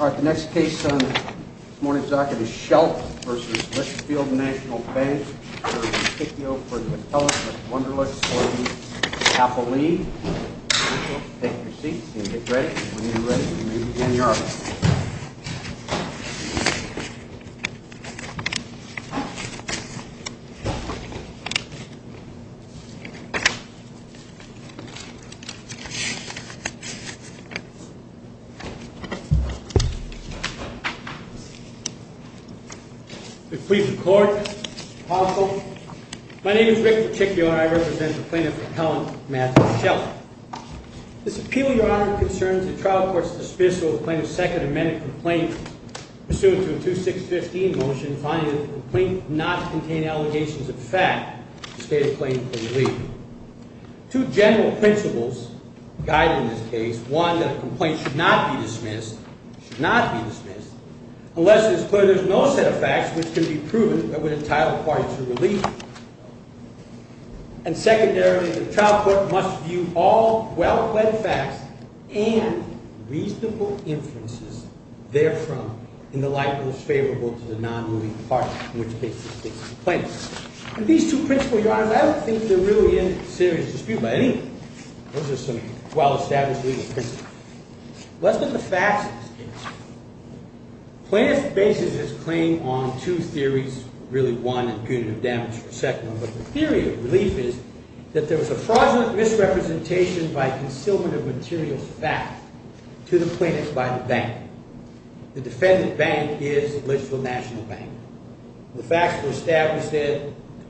All right, the next case on this morning's docket is Sheldt v. Litchfield National Bank. We're going to take you over to the telegraph, Wunderlich, for the capital lead. Take your seats and get ready. When you're ready, we'll move you in the office. If we could court, counsel. My name is Rick Peticchio, and I represent the plaintiff, Helen Matthews Sheldt. This appeal, Your Honor, concerns the trial court's dismissal of the plaintiff's Second Amendment complaint, pursuant to a 2-6-15 motion finding that the complaint did not contain allegations of fact to state a claim for relief. Two general principles guide in this case. One, that a complaint should not be dismissed, should not be dismissed, unless it's clear there's no set of facts which can be proven that would entitle the parties to relief. And secondarily, the trial court must view all well-planned facts and reasonable inferences therefrom in the light most favorable to the non-moving parties, in which case, the plaintiff. And these two principles, Your Honor, I don't think they're really in serious dispute by any means. Those are some well-established legal principles. Let's look at the facts in this case. The plaintiff bases his claim on two theories, really one, and punitive damage for the second one. But the theory of relief is that there was a fraudulent misrepresentation by concealment of materials of fact to the plaintiff by the bank. The defendant bank is Litchfield National Bank. The facts were established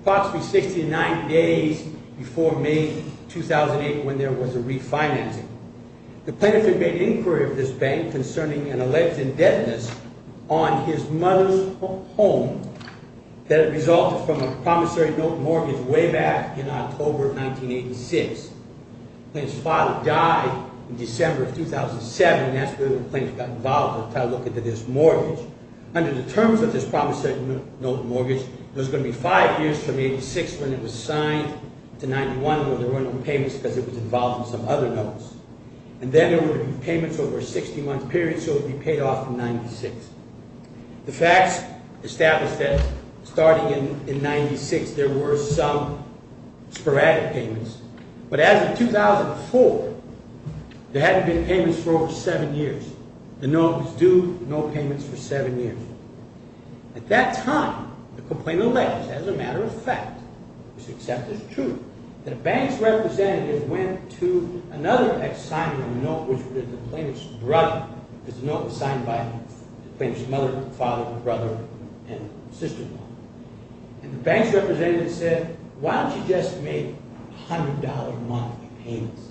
approximately 69 days before May 2008 when there was a refinancing. The plaintiff had made inquiry of this bank concerning an alleged indebtedness on his mother's home that resulted from a promissory note mortgage way back in October of 1986. The plaintiff's father died in December of 2007, and that's when the plaintiff got involved in trying to look into this mortgage. Under the terms of this promissory note mortgage, there was going to be five years from 86 when it was signed to 91 where there were no payments because it was involved in some other notes. And then there would be payments over a 60-month period, so it would be paid off in 96. The facts established that starting in 96, there were some sporadic payments. But as of 2004, there hadn't been payments for over seven years. The note was due with no payments for seven years. At that time, the complaint alleged, as a matter of fact, which is accepted as true, that a bank's representative went to another and signed a note which was the plaintiff's brother because the note was signed by the plaintiff's mother, father, brother, and sister-in-law. And the bank's representative said, why don't you just make $100 a month in payments?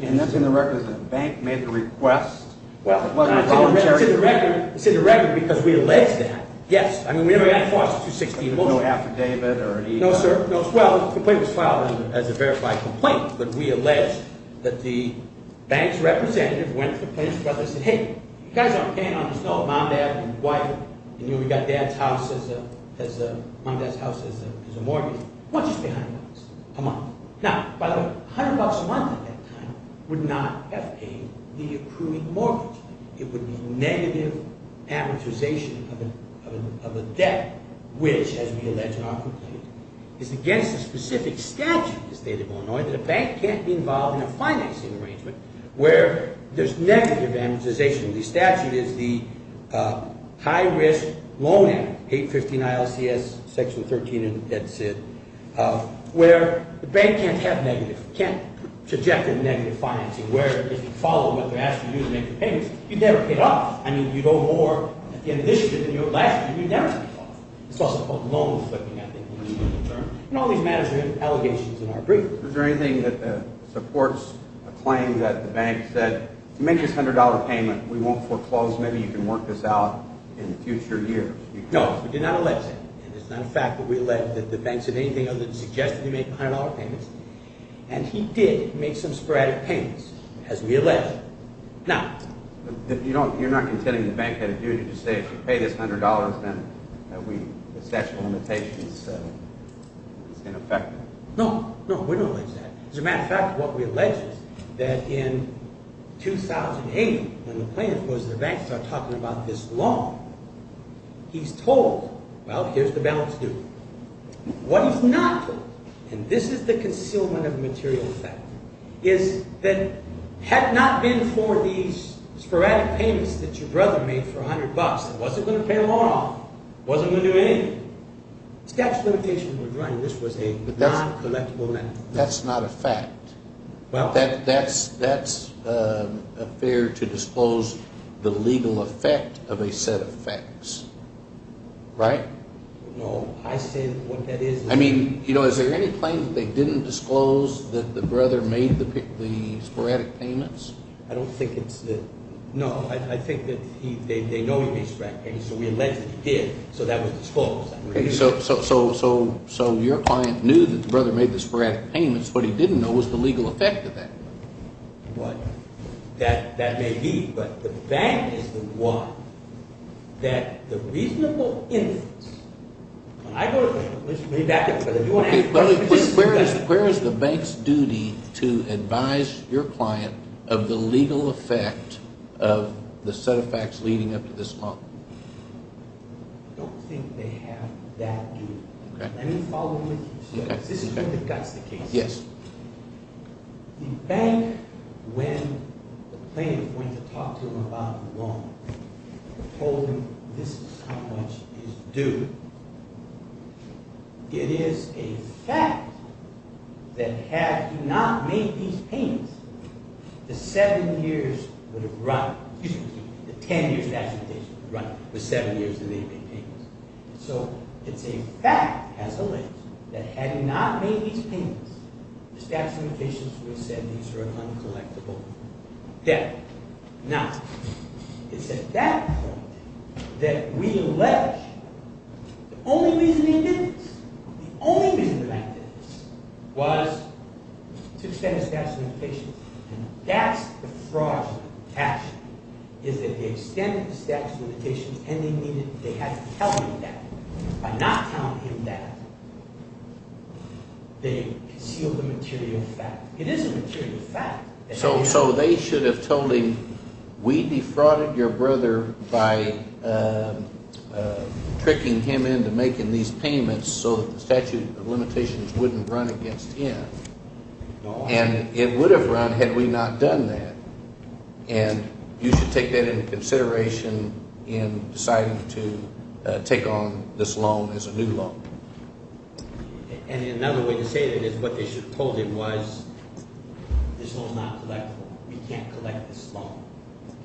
And that's in the record that the bank made the request? Well, it's in the record because we alleged that. Yes, I mean, we never had a false 260 in motion. No affidavit or anything? No, sir. Well, the complaint was filed as a verified complaint, but we alleged that the bank's representative went to the plaintiff's brother and said, hey, you guys aren't paying on this note. You know, we got mom, dad, and wife, and we got mom, dad's house as a mortgage. Why don't you just pay $100 a month? Now, by the way, $100 a month at that time would not have paid the accruing mortgage. It would be negative amortization of a debt, which, as we allege in our complaint, is against a specific statute in the state of Illinois that a bank can't be involved in a financing arrangement where there's negative amortization. The statute is the High Risk Loan Act, 815 ILCS, Section 13, and that's it, where the bank can't have negative – can't project a negative financing where if you follow what they're asking you to do to make the payments, you'd never pay it off. I mean, you'd owe more at the end of the issue than you would last year. You'd never pay it off. It's also called loan-flipping, I think, in the legal term. And all these matters are in allegations in our brief. Is there anything that supports a claim that the bank said, make this $100 payment. We won't foreclose. Maybe you can work this out in future years. No, we did not allege that. And it's not a fact that we allege that the bank said anything other than suggest that you make $100 payments. And he did make some sporadic payments, as we allege. Now – You're not contending the bank had a duty to say, if you pay this $100, then the statute of limitations is ineffective? No, no. We don't allege that. As a matter of fact, what we allege is that in 2008, when the plaintiff goes to the bank and starts talking about this loan, he's told, well, here's the balance due. What he's not told – and this is the concealment of material effect – is that had it not been for these sporadic payments that your brother made for $100 that wasn't going to pay the loan off, wasn't going to do anything, the statute of limitations would have run. That's not a fact. Well – That's a fair to disclose the legal effect of a set of facts, right? No, I said what that is – I mean, you know, is there any claim that they didn't disclose that the brother made the sporadic payments? I don't think it's – no, I think that they know he made sporadic payments, so we allege that he did, so that was disclosed. So your client knew that the brother made the sporadic payments. What he didn't know was the legal effect of that. What? That may be, but the bank is the one that the reasonable instance – I don't – Okay, but where is the bank's duty to advise your client of the legal effect of the set of facts leading up to this loan? I don't think they have that duty. Okay. Let me follow with you. Okay. This is where the gut's the case. Yes. The bank, when the plaintiff went to talk to him about the loan, told him this is how much is due. It is a fact that had he not made these payments, the seven years would have run – excuse me, the ten-year statute of limitations would have run with seven years that they made payments. So it's a fact, as alleged, that had he not made these payments, the statute of limitations would have said these are an uncollectible debt. Now, it's at that point that we allege the only reason he did this, the only reason the bank did this, was to extend the statute of limitations. And that's the fraudulent action, is that they extended the statute of limitations and they had to tell him that. By not telling him that, they concealed the material fact. It is a material fact. So they should have told him we defrauded your brother by tricking him into making these payments so that the statute of limitations wouldn't run against him. And it would have run had we not done that. And you should take that into consideration in deciding to take on this loan as a new loan. And another way to say that is what they should have told him was this loan is not collectible. We can't collect this loan.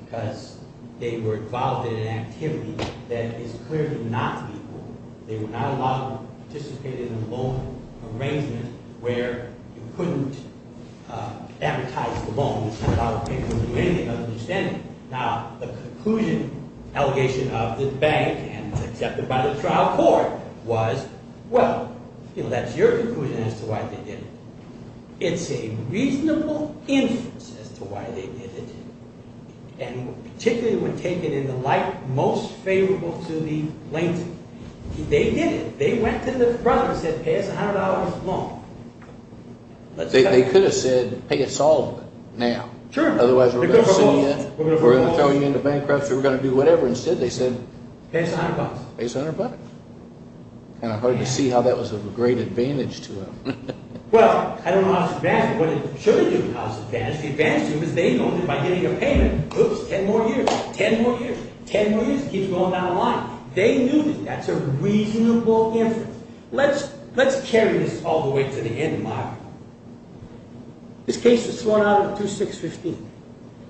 Because they were involved in an activity that is clearly not equal. They were not allowed to participate in a loan arrangement where you couldn't advertise the loan. Now, the conclusion, allegation of the bank and accepted by the trial court was, well, that's your conclusion as to why they did it. It's a reasonable inference as to why they did it. And particularly when taken in the light most favorable to the plaintiff. They did it. They went to their brother and said pay us $100 loan. They could have said pay us all of it now. Sure. Otherwise, we're going to sue you. We're going to throw you into bankruptcy. We're going to do whatever. Instead, they said pay us $100. Pay us $100. Kind of hard to see how that was of a great advantage to them. Well, I don't know how it's an advantage. What it surely didn't have as an advantage. The advantage to them is they owned it by giving a payment. Oops, 10 more years. 10 more years. 10 more years. It keeps going down the line. They knew that that's a reasonable inference. Let's carry this all the way to the end, Mark. This case is thrown out on 2-6-15.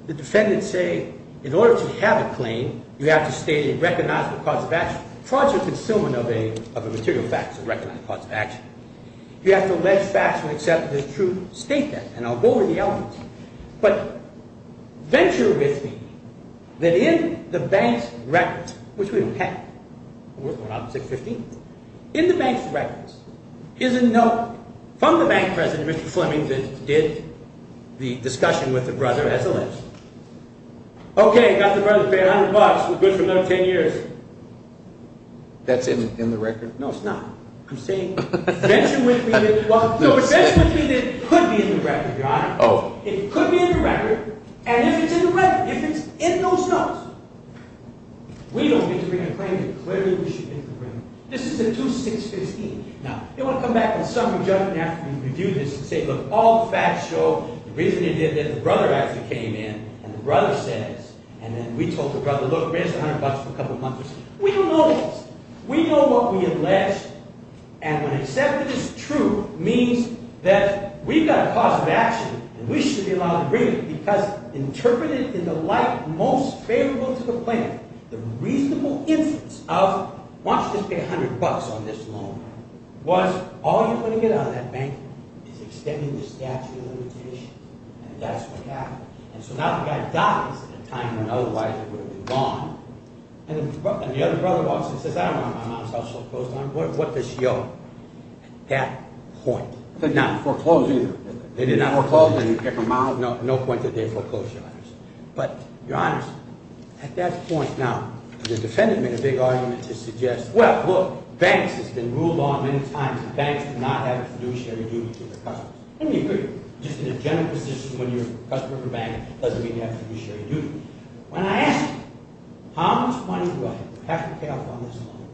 The defendants say in order to have a claim, you have to state a recognizable cause of action. Fraud is a concealment of a material fact. It's a recognized cause of action. You have to allege facts and accept the truth. State that. And I'll go over the elements. But venture with me that in the bank's records, which we don't have. We're going out on 6-15. In the bank's records is a note from the bank president, Mr. Fleming, that did the discussion with the brother as a list. Okay, got the brother to pay $100. It was good for another 10 years. That's in the record? No, it's not. I'm saying venture with me that it could be in the record, Your Honor. It could be in the record. And if it's in the record, if it's in those notes, we don't get to bring a claim that clearly we should get to bring. This is in 2-6-15. Now, you want to come back in the summary judgment after you review this and say, look, all the facts show, the reason you did this, the brother actually came in and the brother says, and then we told the brother, look, raise the $100 for a couple of months or something. We don't know this. We know what we allege. And when accepted as true means that we've got a cause of action and we should be allowed to bring it because interpreted in the light most favorable to the plan, the reasonable instance of, why don't you just pay $100 on this loan, was all you're going to get out of that bank is extending the statute of limitations. And that's what happened. And so now the guy dies at a time when otherwise it would have been gone. And the other brother walks in and says, I don't want my mom's house so closed down. What does she owe? At that point. They did not foreclose either. They did not foreclose. No point that they foreclosed, Your Honor. But Your Honor, at that point now, the defendant made a big argument to suggest, well, look, banks has been ruled on many times. Banks do not have fiduciary duty to their customers. Let me agree with you. Just in a general position when you're a customer of a bank, it doesn't mean you have fiduciary duty. When I asked him, how much money do I have to pay off on this loan?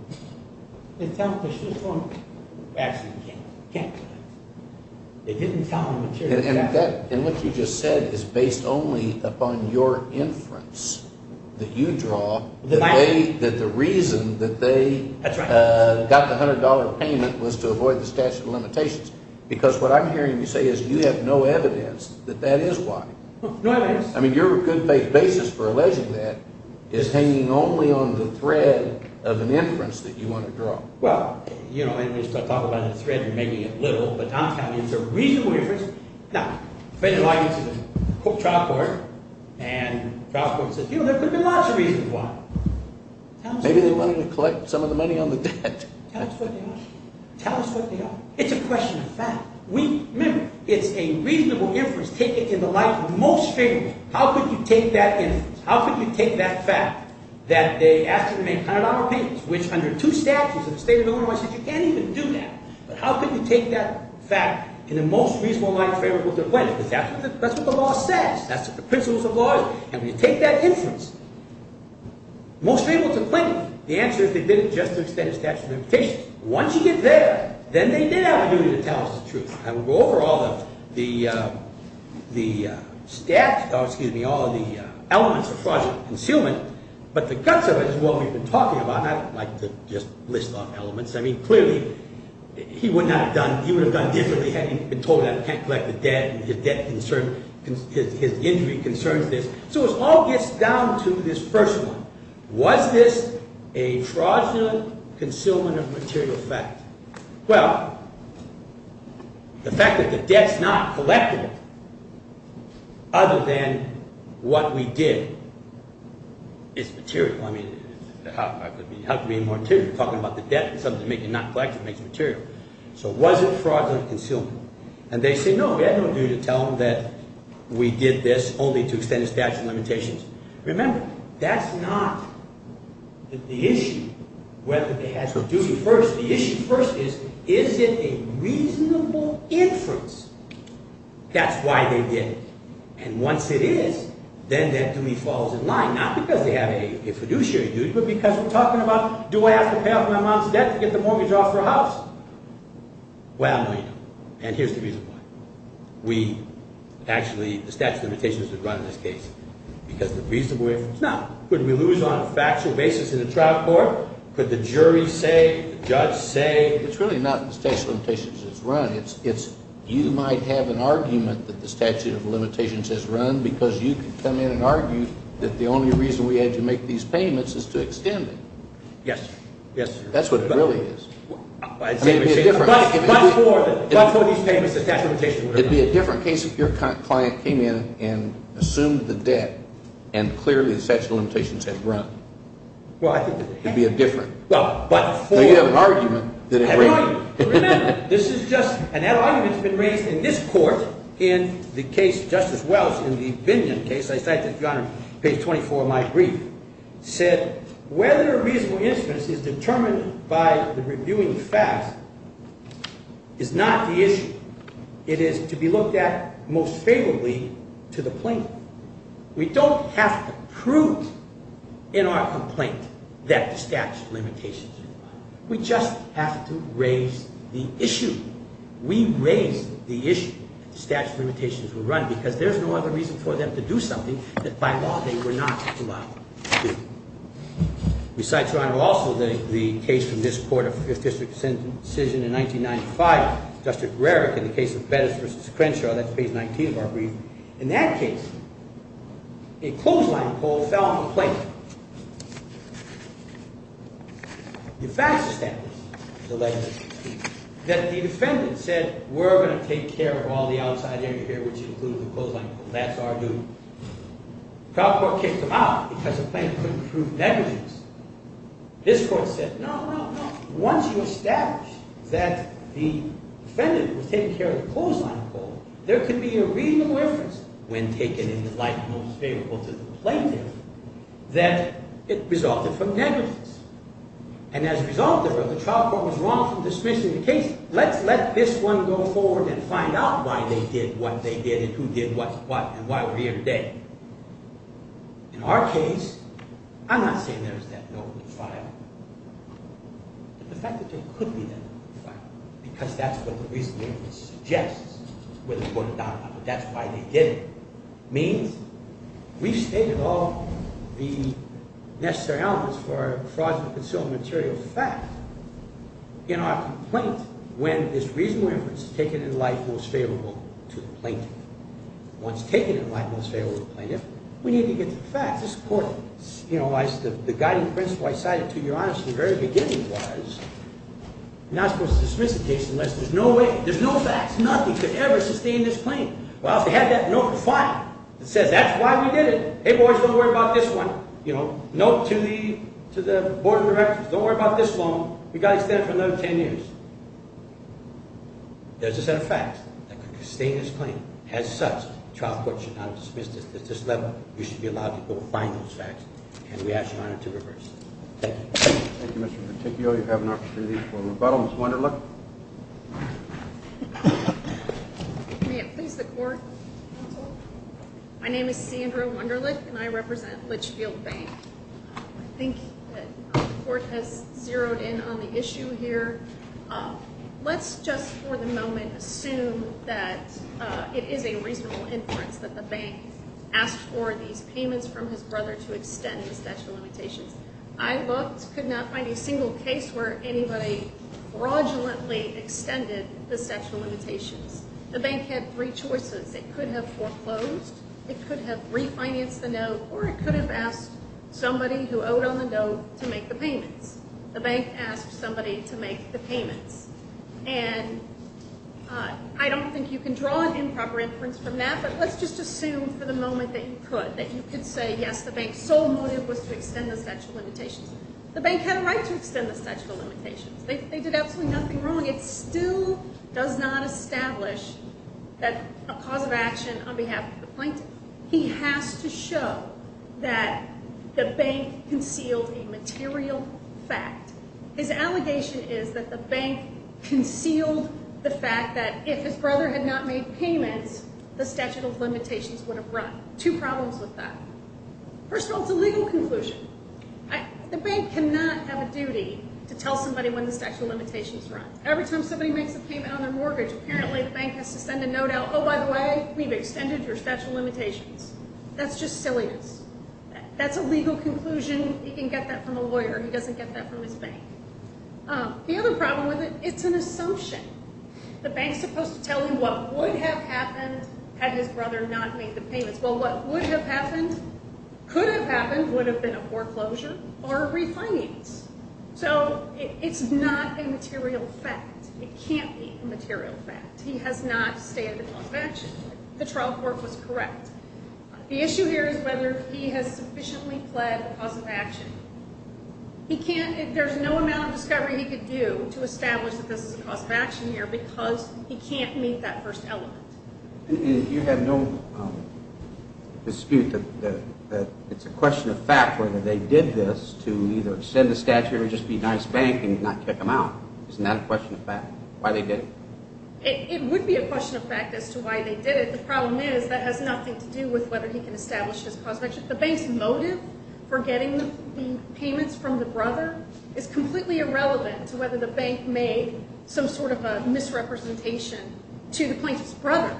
They tell him, they should have told him, actually, you can't. You can't do that. They didn't tell him the material. And what you just said is based only upon your inference that you draw, that the reason that they got the $100 payment was to avoid the statute of limitations, because what I'm hearing you say is you have no evidence that that is why. No evidence. I mean, your good faith basis for alleging that is hanging only on the thread of an inference that you want to draw. Well, you know, anyway, you're making it literal. But I'm telling you it's a reasonable inference. Now, if I get to the trial court and the trial court says, you know, there could be lots of reasons why. Maybe they wanted to collect some of the money on the debt. Tell us what they are. Tell us what they are. It's a question of fact. Remember, it's a reasonable inference. Take it to the life of the most favorable. How could you take that inference? How could you take that fact that they asked you to make $100 payments, which under two statutes of the state of Illinois says you can't even do that. But how could you take that fact in the most reasonable light favorable to claim it? That's what the law says. That's what the principles of law is. And when you take that inference, most able to claim it. The answer is they did it just to extend the statute of limitations. Once you get there, then they did have a duty to tell us the truth. I will go over all the, the, the statute, excuse me, all of the elements of fraudulent concealment. But the guts of it is what we've been talking about. I don't like to just list off elements. I mean, clearly, he would not have done, he would have done differently had he been told that he can't collect the debt and his debt concerns, his injury concerns this. So it all gets down to this first one. Was this a fraudulent concealment of material fact? Well, the fact that the debt's not collectible, other than what we did, is material. I mean, how could it be more material? You're talking about the debt and something to make it not collectible. It makes it material. So was it fraudulent concealment? And they say, no, we had no duty to tell them that we did this only to extend the statute of limitations. Remember, that's not the issue, whether they had a duty. First, the issue first is, is it a reasonable inference? That's why they did it. And once it is, then that duty falls in line, not because they have a fiduciary duty, but because we're talking about, do I have to pay off my mom's debt to get the mortgage off her house? Well, no, you don't. And here's the reason why. We actually, the statute of limitations would run in this case because of the reasonable inference. Now, could we lose on a factual basis in a trial court? Could the jury say, the judge say? It's really not the statute of limitations that's run. It's you might have an argument that the statute of limitations has run because you can come in and argue that the only reason we had to make these payments is to extend it. Yes, sir. That's what it really is. But for these payments, the statute of limitations would have run. It would be a different case if your client came in and assumed the debt and clearly the statute of limitations had run. Well, I think it would have. It would be a different. Well, but for. Now, you have an argument that it ran. Remember, this is just, and that argument has been raised in this court in the case of Justice Welch in the Binion case. I cite this, Your Honor, page 24 of my brief. It said, whether a reasonable inference is determined by the reviewing facts is not the issue. It is to be looked at most favorably to the plaintiff. We don't have to prove in our complaint that the statute of limitations has run. We just have to raise the issue. We raise the issue that the statute of limitations would run because there's no other reason for them to do something that by law they were not allowed to do. We cite, Your Honor, also the case from this court, a Fifth District decision in 1995, Justice Rarick, in the case of Bettis v. Crenshaw. That's page 19 of our brief. In that case, a clothesline poll fell on the plaintiff. The facts established that the defendant said, we're going to take care of all the outside area here, which included the clothesline poll. That's our duty. The trial court kicked them out because the plaintiff couldn't prove negligence. This court said, no, no, no. Once you establish that the defendant was taking care of the clothesline poll, there can be a reasonable inference, when taken in the light most favorable to the plaintiff, that it resulted from negligence. And as a result of that, the trial court was wrong from dismissing the case. Let's let this one go forward and find out why they did what they did and who did what and why we're here today. In our case, I'm not saying there's that note in the file, but the fact that there could be that note in the file, because that's what the reasonable inference suggests with the court of Donald Trump, that's why they did it, means we've stated all the necessary elements for a fraudulent concealed material fact in our complaint when this reasonable inference is taken in the light most favorable to the plaintiff. Once taken in the light most favorable to the plaintiff, we need to get to the facts. This court, you know, the guiding principle I cited to you, honestly, the very beginning was, you're not supposed to dismiss the case unless there's no way, there's no facts, nothing could ever sustain this claim. Well, if they had that note in the file that says that's why we did it, hey, boys, don't worry about this one, you know, note to the board of directors, don't worry about this one, we've got to stand for another 10 years. There's a set of facts that could sustain this claim. As such, the trial court should not have dismissed it at this level. You should be allowed to go find those facts, and we ask your Honor to reverse it. Thank you. Thank you, Mr. Peticchio. You have an opportunity for rebuttal. Ms. Wunderlich. Rebuttal. May it please the court. My name is Sandra Wunderlich, and I represent Litchfield Bank. I think the court has zeroed in on the issue here. Let's just for the moment assume that it is a reasonable inference that the bank asked for these payments from his brother to extend the statute of limitations. I looked, could not find a single case where anybody fraudulently extended the statute of limitations. The bank had three choices. It could have foreclosed, it could have refinanced the note, or it could have asked somebody who owed on the note to make the payments. The bank asked somebody to make the payments. And I don't think you can draw an improper inference from that, but let's just assume for the moment that you could, that you could say, yes, the bank's sole motive was to extend the statute of limitations. The bank had a right to extend the statute of limitations. They did absolutely nothing wrong. It still does not establish that a cause of action on behalf of the plaintiff. He has to show that the bank concealed a material fact. His allegation is that the bank concealed the fact that if his brother had not made payments, the statute of limitations would have run. Two problems with that. First of all, it's a legal conclusion. The bank cannot have a duty to tell somebody when the statute of limitations runs. Every time somebody makes a payment on their mortgage, apparently the bank has to send a note out, oh, by the way, we've extended your statute of limitations. That's just silliness. That's a legal conclusion. He can get that from a lawyer. The other problem with it, it's an assumption. The bank's supposed to tell him what would have happened had his brother not made the payments. Well, what would have happened, could have happened, would have been a foreclosure or a refinance. So it's not a material fact. It can't be a material fact. He has not stated a cause of action. The trial court was correct. The issue here is whether he has sufficiently pled a cause of action. He can't. There's no amount of discovery he could do to establish that this is a cause of action here because he can't meet that first element. And you have no dispute that it's a question of fact whether they did this to either extend the statute or just be nice to the bank and not kick him out. Isn't that a question of fact, why they did it? It would be a question of fact as to why they did it. The problem is that has nothing to do with whether he can establish his cause of action. The bank's motive for getting the payments from the brother is completely irrelevant to whether the bank made some sort of a misrepresentation to the plaintiff's brother.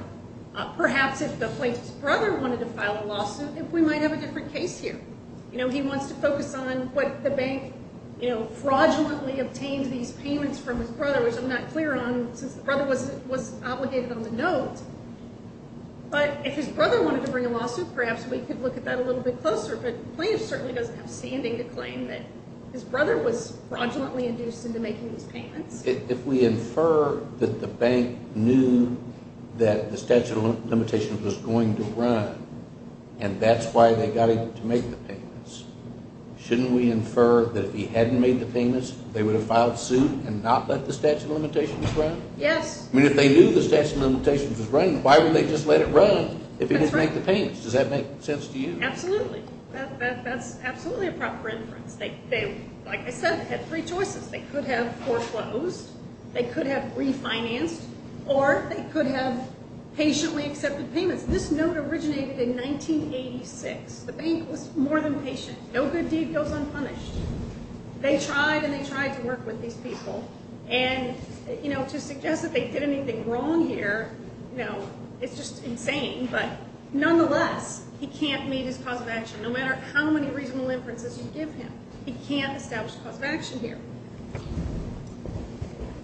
Perhaps if the plaintiff's brother wanted to file a lawsuit, we might have a different case here. He wants to focus on what the bank fraudulently obtained these payments from his brother, which I'm not clear on since the brother was obligated on the note. But if his brother wanted to bring a lawsuit, perhaps we could look at that a little bit closer. But the plaintiff certainly doesn't have standing to claim that his brother was fraudulently induced into making these payments. If we infer that the bank knew that the statute of limitations was going to run and that's why they got him to make the payments, shouldn't we infer that if he hadn't made the payments, they would have filed suit and not let the statute of limitations run? Yes. If they knew the statute of limitations was running, why would they just let it run if he didn't make the payments? Does that make sense to you? Absolutely. That's absolutely a proper inference. Like I said, they had three choices. They could have foreclosed, they could have refinanced, or they could have patiently accepted payments. This note originated in 1986. The bank was more than patient. No good deed goes unpunished. They tried and they tried to work with these people. To suggest that they did anything wrong here, it's just insane. But nonetheless, he can't meet his cause of action. No matter how many reasonable inferences you give him, he can't establish a cause of action here.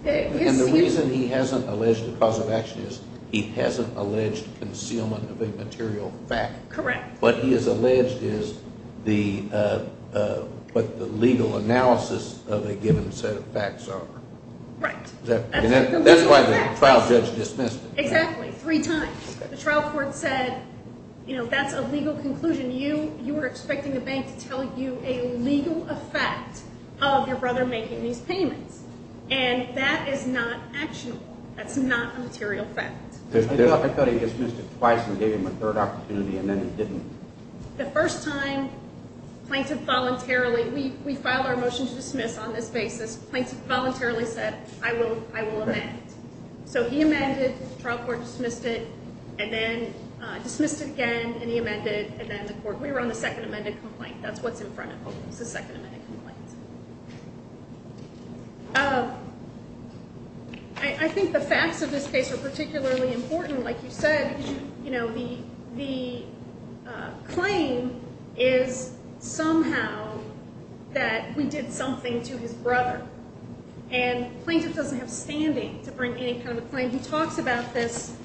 The reason he hasn't alleged a cause of action is he hasn't alleged concealment of a material fact. Correct. What he has alleged is what the legal analysis of a given set of facts are. Right. And that's why the trial judge dismissed it. Exactly. Three times. The trial court said, you know, that's a legal conclusion. You were expecting the bank to tell you a legal effect of your brother making these payments. And that is not actionable. That's not a material fact. I thought he dismissed it twice and gave him a third opportunity and then he didn't. The first time, plaintiff voluntarily. We file our motion to dismiss on this basis. Plaintiff voluntarily said, I will amend. So he amended, trial court dismissed it, and then dismissed it again, and he amended, and then the court. We were on the second amended complaint. That's what's in front of us, the second amended complaint. I think the facts of this case are particularly important. Like you said, you know, the claim is somehow that we did something to his brother. And plaintiff doesn't have standing to bring any kind of a claim. He talks about this,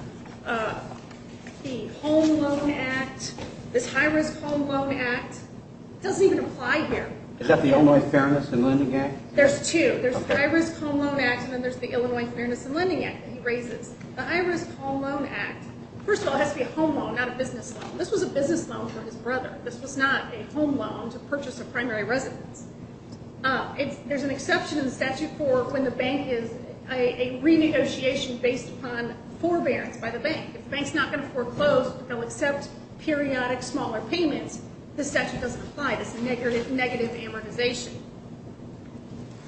the Home Loan Act, this High Risk Home Loan Act. It doesn't even apply here. Is that the Illinois Fairness and Lending Act? There's two. There's the High Risk Home Loan Act, and then there's the Illinois Fairness and Lending Act that he raises. The High Risk Home Loan Act, first of all, has to be a home loan, not a business loan. This was a business loan for his brother. This was not a home loan to purchase a primary residence. There's an exception in the statute for when the bank is a renegotiation based upon forbearance by the bank. If the bank's not going to foreclose, they'll accept periodic smaller payments. This statute doesn't apply. This is a negative amortization.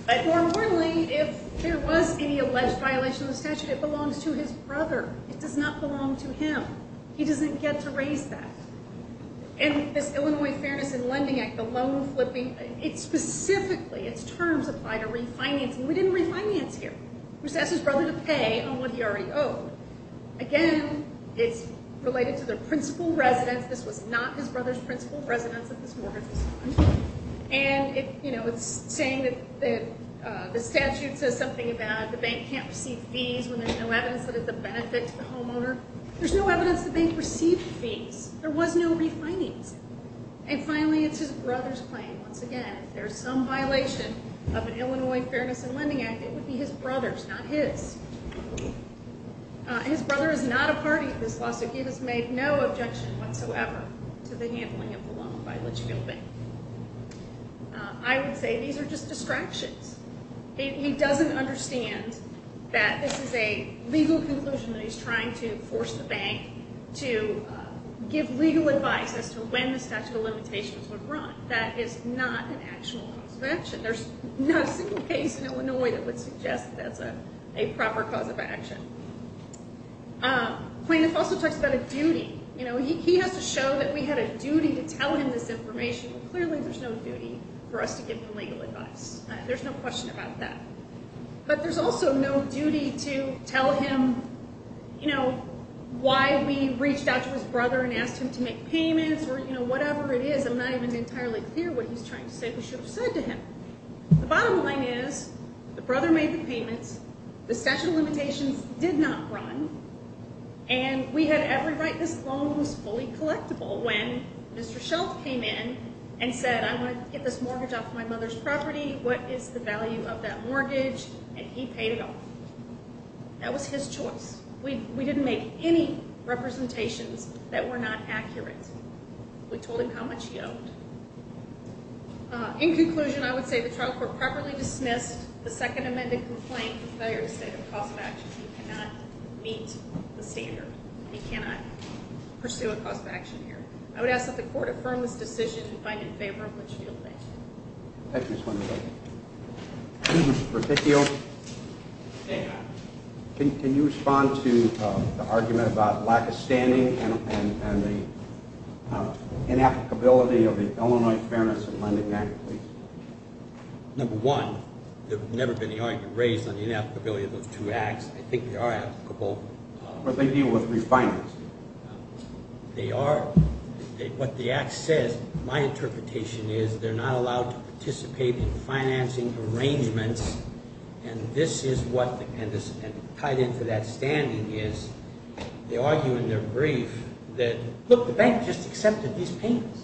But more importantly, if there was any alleged violation of the statute, it belongs to his brother. It does not belong to him. He doesn't get to raise that. And this Illinois Fairness and Lending Act, the loan flipping, specifically its terms apply to refinancing. We didn't refinance here. We just asked his brother to pay on what he already owed. Again, it's related to the principal residence. This was not his brother's principal residence that this mortgage was on. And, you know, it's saying that the statute says something about the bank can't receive fees when there's no evidence that it's a benefit to the homeowner. There's no evidence the bank received fees. There was no refinancing. And finally, it's his brother's claim. Once again, if there's some violation of an Illinois Fairness and Lending Act, it would be his brother's, not his. His brother is not a party to this lawsuit. He has made no objection whatsoever to the handling of the loan by Litchfield Bank. I would say these are just distractions. He doesn't understand that this is a legal conclusion that he's trying to force the bank to give legal advice as to when the statute of limitations would run. That is not an actual cause of action. There's not a single case in Illinois that would suggest that that's a proper cause of action. Plaintiff also talks about a duty. You know, he has to show that we had a duty to tell him this information. Well, clearly there's no duty for us to give him legal advice. There's no question about that. But there's also no duty to tell him, you know, why we reached out to his brother and asked him to make payments or, you know, whatever it is. I'm not even entirely clear what he's trying to say we should have said to him. The bottom line is the brother made the payments, the statute of limitations did not run, and we had every right this loan was fully collectible. When Mr. Schultz came in and said, I want to get this mortgage off my mother's property, what is the value of that mortgage? And he paid it off. That was his choice. We didn't make any representations that were not accurate. We told him how much he owed. In conclusion, I would say the trial court properly dismissed the second amended complaint for failure to state a cause of action. He cannot meet the standard. He cannot pursue a cause of action here. I would ask that the court affirm this decision and find it in favor of what you feel today. Thank you, Ms. Winters. Mr. Peticchio, can you respond to the argument about lack of standing and the inapplicability of the Illinois Fairness and Lending Act, please? Number one, there's never been an argument raised on the inapplicability of those two acts. I think they are applicable. But they deal with refinance. They are. What the act says, my interpretation is, they're not allowed to participate in financing arrangements, and this is what tied into that standing is they argue in their brief that, look, the bank just accepted these payments.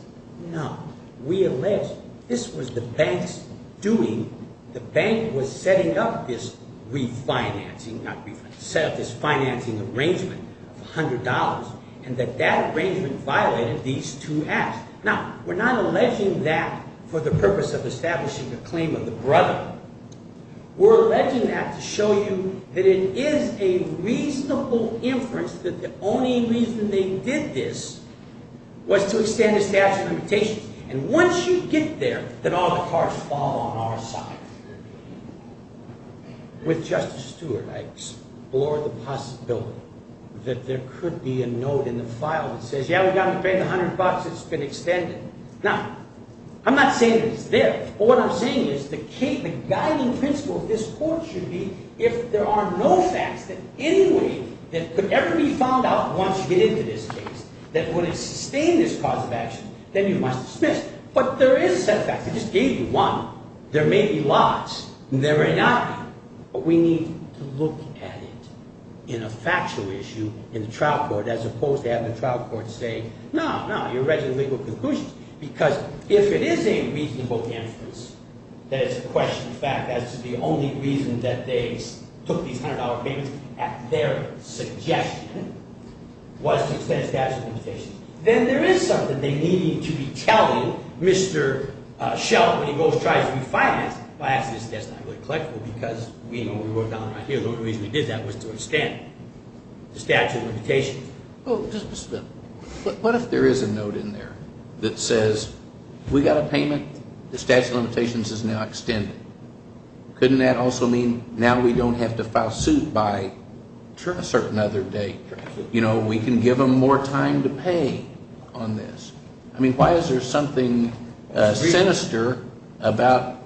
No. We allege this was the bank's doing. The bank was setting up this refinancing, not refinancing, set up this financing arrangement of $100, and that that arrangement violated these two acts. Now, we're not alleging that for the purpose of establishing a claim of the brother. We're alleging that to show you that it is a reasonable inference that the only reason they did this was to extend the statute of limitations. And once you get there, then all the cards fall on our side. With Justice Stewart, I explore the possibility that there could be a note in the file that says, yeah, we got to pay the $100. It's been extended. Now, I'm not saying it's there, but what I'm saying is the guiding principle of this court should be if there are no facts that any way that could ever be found out once you get into this case that would sustain this cause of action, then you must dismiss. But there is a set of facts. I just gave you one. There may be lots. There may not be. But we need to look at it in a factual issue in the trial court as opposed to having the trial court say, no, no, you're raising legal conclusions. Because if it is a reasonable inference that it's a question of fact as to the only reason that they took these $100 payments, at their suggestion, was to extend the statute of limitations, then there is something they need to be telling Mr. Schell when he goes and tries to refinance it. I ask this because that's not really collectible because we know we worked on it right here. The only reason we did that was to extend the statute of limitations. Oh, just a minute. What if there is a note in there that says we got a payment. The statute of limitations is now extended. Couldn't that also mean now we don't have to file suit by a certain other date? We can give them more time to pay on this. Why is there something sinister about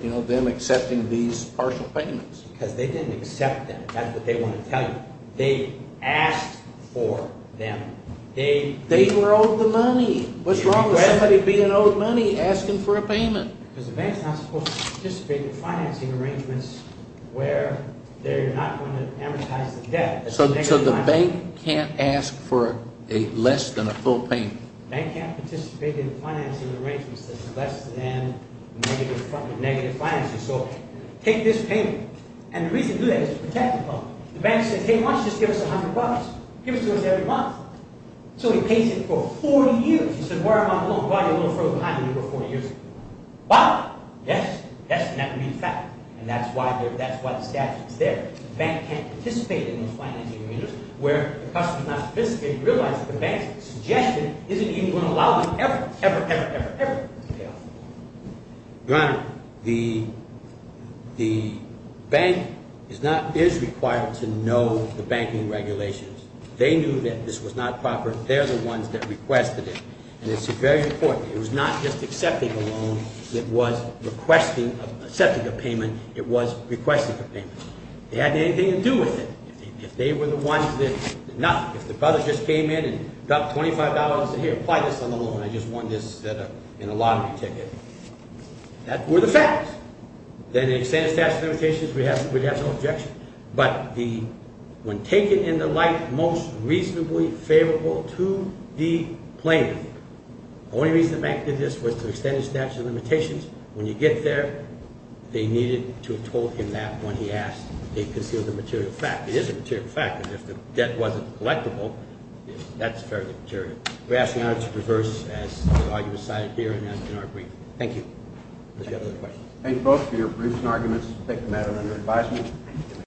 them accepting these partial payments? Because they didn't accept them. That's what they want to tell you. They asked for them. They were owed the money. What's wrong with somebody being owed money asking for a payment? Because the bank is not supposed to participate in financing arrangements where they're not going to amortize the debt. So the bank can't ask for less than a full payment? The bank can't participate in financing arrangements that are less than negative financing. So take this payment. And the reason to do that is to protect the public. The bank says, hey, why don't you just give us $100? Give it to us every month. So he pays it for 40 years. He said, where am I going? I'm probably a little further behind than you were 40 years ago. But, yes, yes, and that would be the fact. And that's why the statute is there. The bank can't participate in those financing arrangements where the customer is not sophisticated and realizes the bank's suggestion isn't even going to allow them ever, ever, ever, ever, ever to pay off. Your Honor, the bank is required to know the banking regulations. They knew that this was not proper. They're the ones that requested it. And it's very important. It was not just accepting a loan. It was requesting, accepting a payment. It was requesting a payment. It had anything to do with it. If they were the ones that, if the brothers just came in and got $25 and said, here, apply this on the loan. I just want this in a lottery ticket. That were the facts. Then they would say the statute of limitations. We'd have no objection. But the, when taken into light, most reasonably favorable to the plaintiff. The only reason the bank did this was to extend the statute of limitations. When you get there, they needed to have told him that when he asked. They concealed the material facts. It is a material fact. And if the debt wasn't collectible, that's fairly material. We're asking, Your Honor, to reverse as the argument cited here and as in our brief. Thank you. Any other questions? Thank you both for your briefs and arguments. We'll take a matter under advisement.